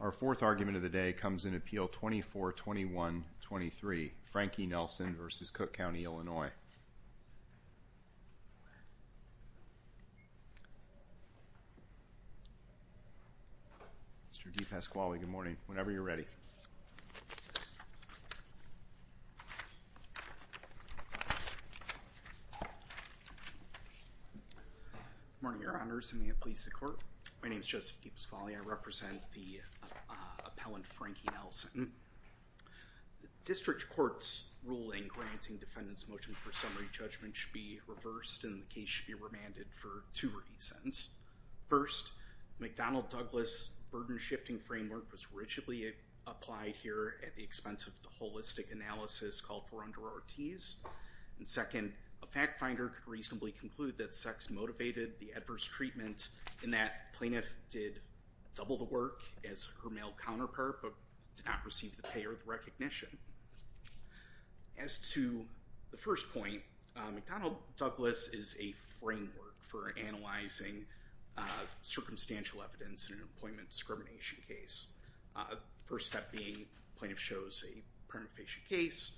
Our fourth argument of the day comes in appeal 24-21-23, Frankie Nelson v. Cook County, Illinois. Mr. DePasquale, good morning, whenever you're ready. Good morning, your honors, and may it please the court. My name is Joseph DePasquale. I represent the appellant Frankie Nelson. The district court's ruling granting defendants motion for summary judgment should be reversed and the case should be remanded for two reasons. First, McDonnell-Douglas burden-shifting framework was rigidly applied here at the expense of the holistic analysis called for under Ortiz. And second, a fact finder could reasonably conclude that sex motivated the adverse treatment and that plaintiff did double the work as her male counterpart but did not receive the pay or the recognition. As to the first point, McDonnell-Douglas is a framework for analyzing circumstantial evidence in an employment discrimination case. First step being plaintiff shows a permafacial case,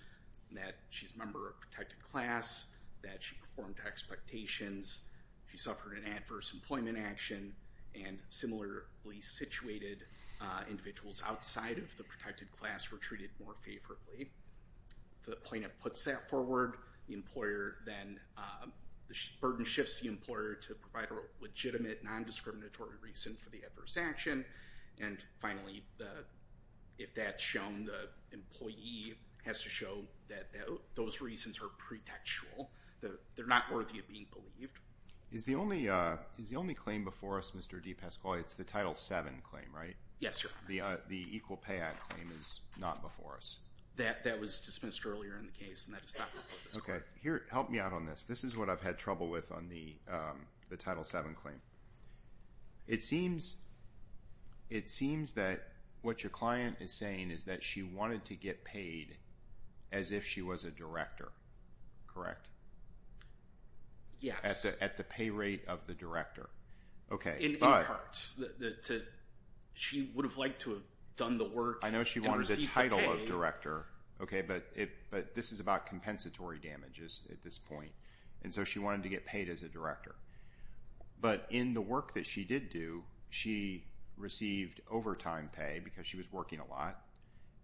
that she's a member of a protected class, that she performed to expectations, she suffered an adverse employment action, and similarly situated individuals outside of the protected class were treated more favorably. The plaintiff puts that forward, the employer then burden shifts the employer to provide a legitimate non-discriminatory reason for the adverse action. And finally, if that's shown, the employee has to show that those reasons are pretextual. They're not worthy of being believed. Is the only claim before us, Mr. DePasquale, it's the Title VII claim, right? Yes, sir. The Equal Pay Act claim is not before us. That was dismissed earlier in the case and that is not before this court. Okay, here, help me out on this. This is what I've had trouble with on the Title VII claim. It seems that what your client is saying is that she wanted to get paid as if she was a director, correct? Yes. At the pay rate of the director. In parts. She would have liked to have done the work and received the pay. I know she wanted the title of director, but this is about compensatory damages at this point, and so she wanted to get paid as a director. But in the work that she did do, she received overtime pay because she was working a lot.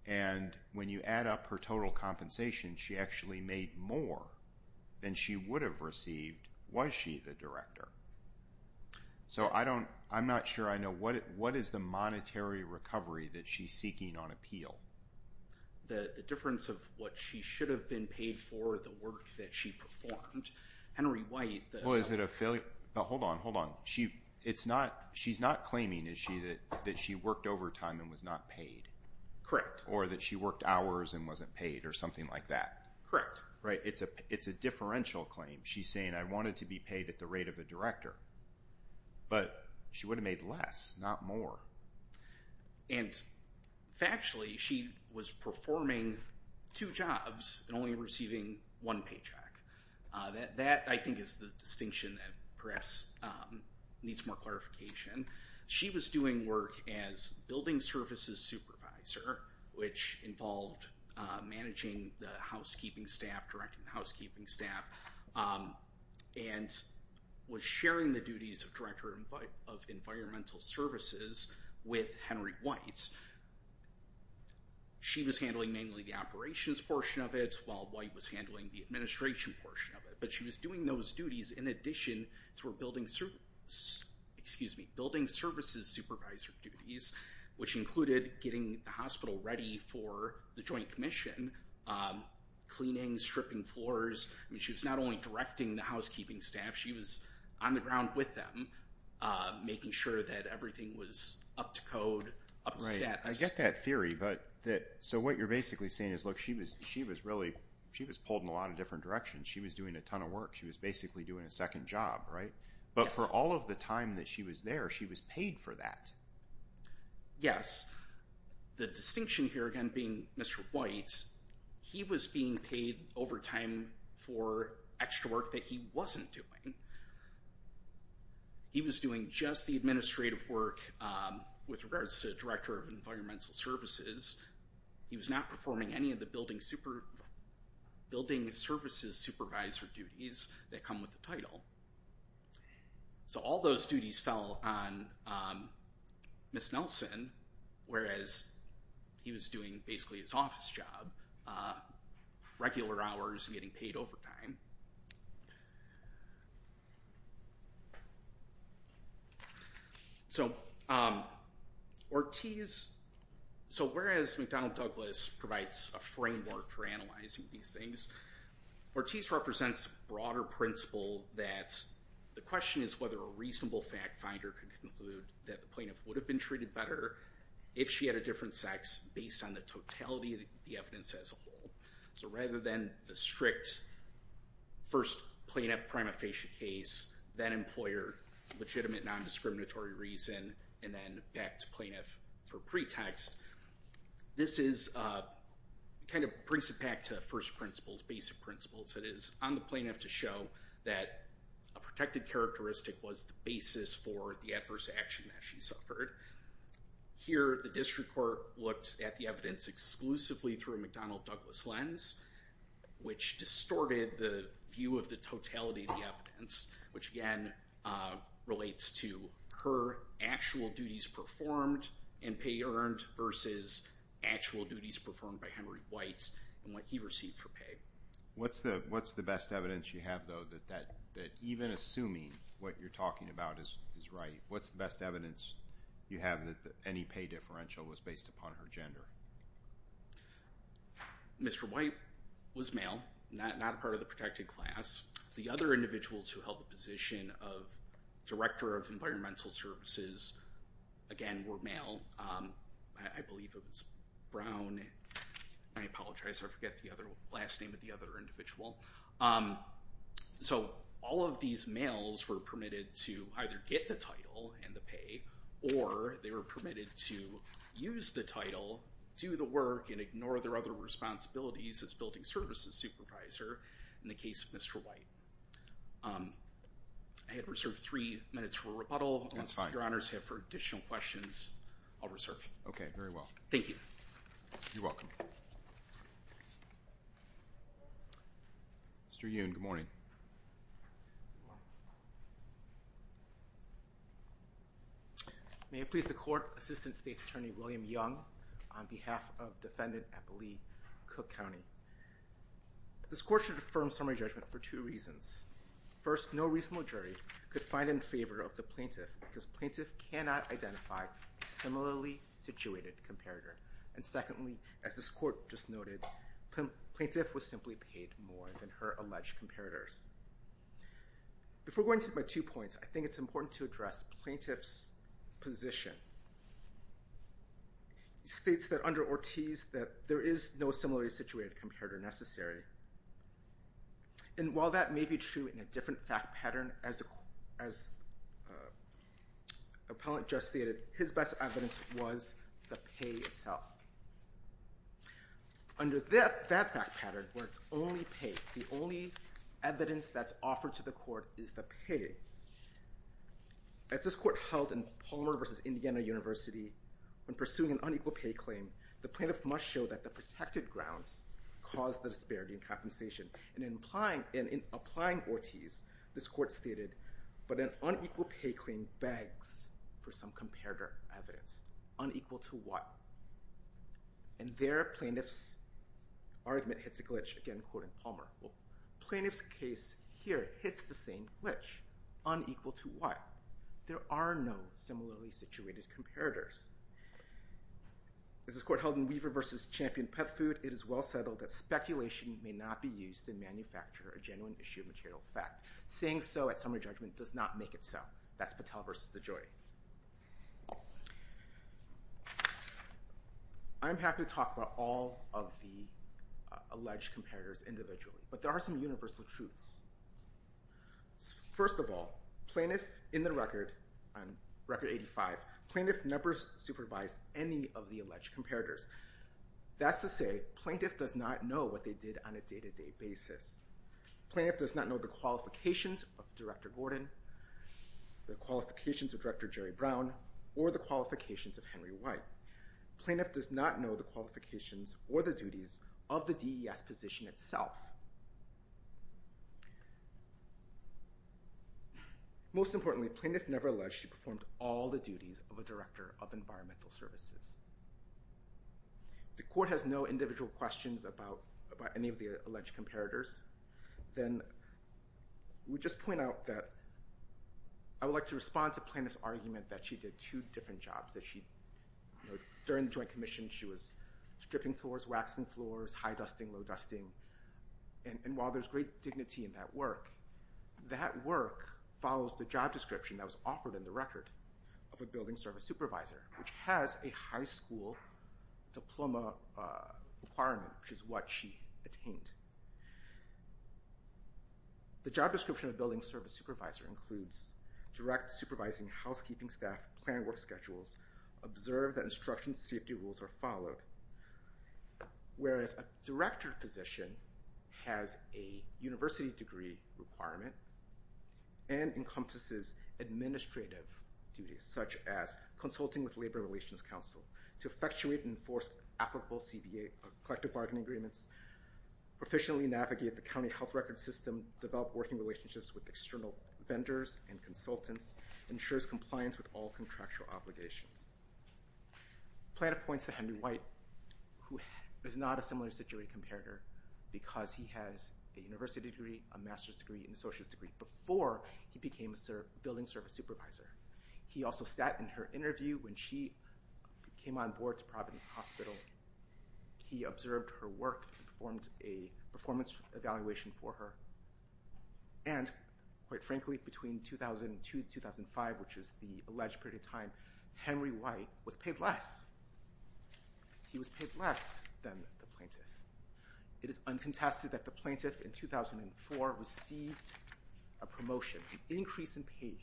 And when you add up her total compensation, she actually made more than she would have received was she the director. So I'm not sure I know what is the monetary recovery that she's seeking on appeal. The difference of what she should have been paid for, the work that she performed. Hold on, hold on. She's not claiming, is she, that she worked overtime and was not paid? Correct. Or that she worked hours and wasn't paid or something like that? Correct. Right, it's a differential claim. She's saying I wanted to be paid at the rate of the director, but she would have made less, not more. And factually, she was performing two jobs and only receiving one paycheck. That, I think, is the distinction that perhaps needs more clarification. She was doing work as building services supervisor, which involved managing the housekeeping staff, directing the housekeeping staff, and was sharing the duties of director of environmental services with Henry White. She was handling mainly the operations portion of it, while White was handling the administration portion of it. But she was doing those duties in addition to her building services supervisor duties, which included getting the hospital ready for the joint commission, cleaning, stripping floors. I mean, she was not only directing the housekeeping staff, she was on the ground with them, making sure that everything was up to code, up to status. Right, I get that theory. So what you're basically saying is, look, she was pulled in a lot of different directions. She was doing a ton of work. She was basically doing a second job, right? Yes. But for all of the time that she was there, she was paid for that. Yes. The distinction here, again, being Mr. White, he was being paid overtime for extra work that he wasn't doing. He was doing just the administrative work with regards to director of environmental services. He was not performing any of the building services supervisor duties that come with the title. So all those duties fell on Ms. Nelson, whereas he was doing basically his office job, regular hours and getting paid overtime. So Ortiz, so whereas McDonnell Douglas provides a framework for analyzing these things, Ortiz represents a broader principle that the question is whether a reasonable fact finder could conclude that the plaintiff would have been treated better if she had a different sex based on the totality of the evidence as a whole. So rather than the strict first plaintiff prima facie case, then employer, legitimate non-discriminatory reason, and then back to plaintiff for pretext, this kind of brings it back to first principles, basic principles. It is on the plaintiff to show that a protected characteristic was the basis for the adverse action that she suffered. Here the district court looked at the evidence exclusively through a McDonnell Douglas lens, which distorted the view of the totality of the evidence, which again relates to her actual duties performed and pay earned versus actual duties performed by Henry White and what he received for pay. What's the best evidence you have, though, that even assuming what you're talking about is right, what's the best evidence you have that any pay differential was based upon her gender? Mr. White was male, not a part of the protected class. The other individuals who held the position of director of environmental services, again, were male. I believe it was Brown, I apologize, I forget the last name of the other individual. So all of these males were permitted to either get the title and the pay, or they were permitted to use the title, do the work, and ignore their other responsibilities as building services supervisor in the case of Mr. White. I have reserved three minutes for rebuttal. That's fine. Unless your honors have additional questions, I'll reserve. Okay, very well. Thank you. You're welcome. Mr. Yoon, good morning. May it please the court, Assistant State's Attorney William Young, on behalf of Defendant Eppley Cook County. This court should affirm summary judgment for two reasons. First, no reasonable jury could find it in favor of the plaintiff because plaintiff cannot identify a similarly situated comparator. And secondly, as this court just noted, plaintiff was simply paid more than her alleged comparators. Before going to my two points, I think it's important to address plaintiff's position. He states that under Ortiz that there is no similarly situated comparator necessary. And while that may be true in a different fact pattern, as appellant just stated, his best evidence was the pay itself. Under that fact pattern, where it's only pay, the only evidence that's offered to the court is the pay. As this court held in Palmer v. Indiana University, when pursuing an unequal pay claim, the plaintiff must show that the protected grounds cause the disparity in compensation. And in applying Ortiz, this court stated, but an unequal pay claim begs for some comparator evidence. Unequal to what? And there, plaintiff's argument hits a glitch, again quoting Palmer. Well, plaintiff's case here hits the same glitch. Unequal to what? There are no similarly situated comparators. As this court held in Weaver v. Champion Pet Food, it is well settled that speculation may not be used to manufacture a genuine issue of material fact. Saying so at summary judgment does not make it so. That's Patel v. DeJoy. I'm happy to talk about all of the alleged comparators individually, but there are some universal truths. First of all, plaintiff in the record, record 85, plaintiff never supervised any of the alleged comparators. That's to say, plaintiff does not know what they did on a day-to-day basis. Plaintiff does not know the qualifications of Director Gordon, the qualifications of Director Jerry Brown, or the qualifications of Henry White. Plaintiff does not know the qualifications or the duties of the DES position itself. Most importantly, plaintiff never alleged she performed all the duties of a Director of Environmental Services. If the court has no individual questions about any of the alleged comparators, then we just point out that I would like to respond to plaintiff's argument that she did two different jobs. During the Joint Commission, she was stripping floors, waxing floors, high-dusting, low-dusting. And while there's great dignity in that work, that work follows the job description that was offered in the record of a building service supervisor, which has a high school diploma requirement, which is what she attained. The job description of a building service supervisor includes direct supervising housekeeping staff, planning work schedules, observe that instruction safety rules are followed. Whereas a Director position has a university degree requirement and encompasses administrative duties, such as consulting with Labor Relations Council to effectuate and enforce applicable CBA, collective bargaining agreements, proficiently navigate the county health record system, develop working relationships with external vendors and consultants, ensures compliance with all contractual obligations. Plaintiff points to Henry White, who is not a similar-situated comparator, because he has a university degree, a master's degree, and a associate's degree, before he became a building service supervisor. He also sat in her interview when she came on board to Providence Hospital. He observed her work and performed a performance evaluation for her. And, quite frankly, between 2002 and 2005, which is the alleged period of time, Henry White was paid less. He was paid less than the plaintiff. It is uncontested that the plaintiff in 2004 received a promotion, an increase in pay,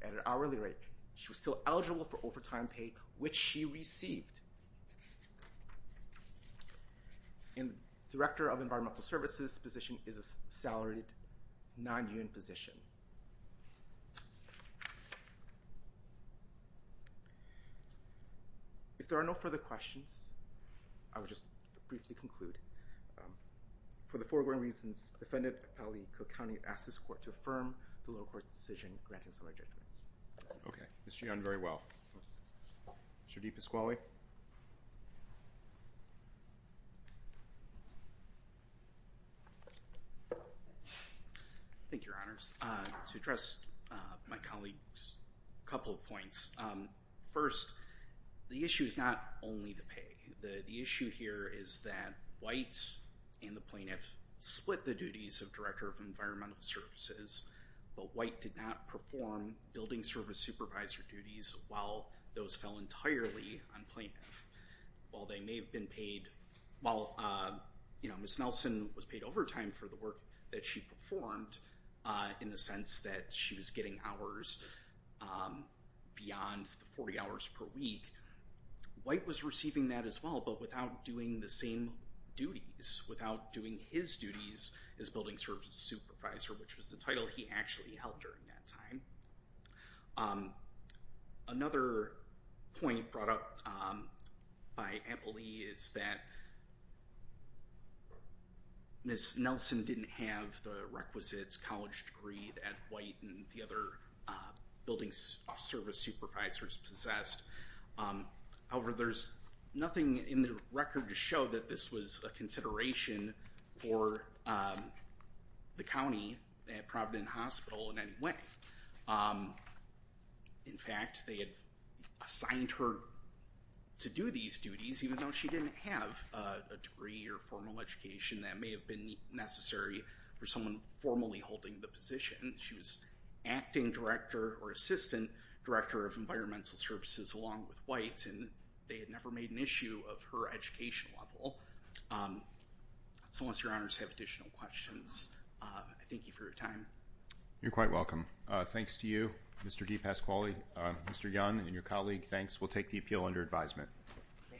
at an hourly rate. She was still eligible for overtime pay, which she received. And Director of Environmental Services position is a salaried, non-union position. If there are no further questions, I will just briefly conclude. For the foregoing reasons, Defendant Ali Cook County asks this Court to affirm the lower court's decision granting some adjudications. Okay. Mr. Young, very well. Mr. DePasquale? Thank you, Your Honors. To address my colleague's couple of points, first, the issue is not only the pay. The issue here is that White and the plaintiff split the duties of Director of Environmental Services, but White did not perform building service supervisor duties while those fell entirely on plaintiff. While they may have been paid... While, you know, Ms. Nelson was paid overtime for the work that she performed, in the sense that she was getting hours beyond the 40 hours per week, White was receiving that as well, but without doing the same duties, without doing his duties as building service supervisor, which was the title he actually held during that time. Another point brought up by Emily is that Ms. Nelson didn't have the requisites, college degree that White and the other building service supervisors possessed. However, there's nothing in the record to show that this was a consideration for the county at Providence Hospital in any way. In fact, they had assigned her to do these duties, even though she didn't have a degree or formal education that may have been necessary for someone formally holding the position. She was acting director or assistant director of environmental services along with White, and they had never made an issue of her education level. So unless your honors have additional questions, I thank you for your time. You're quite welcome. Thanks to you, Mr. DePasquale, Mr. Young, and your colleague. Thanks. We'll take the appeal under advisement.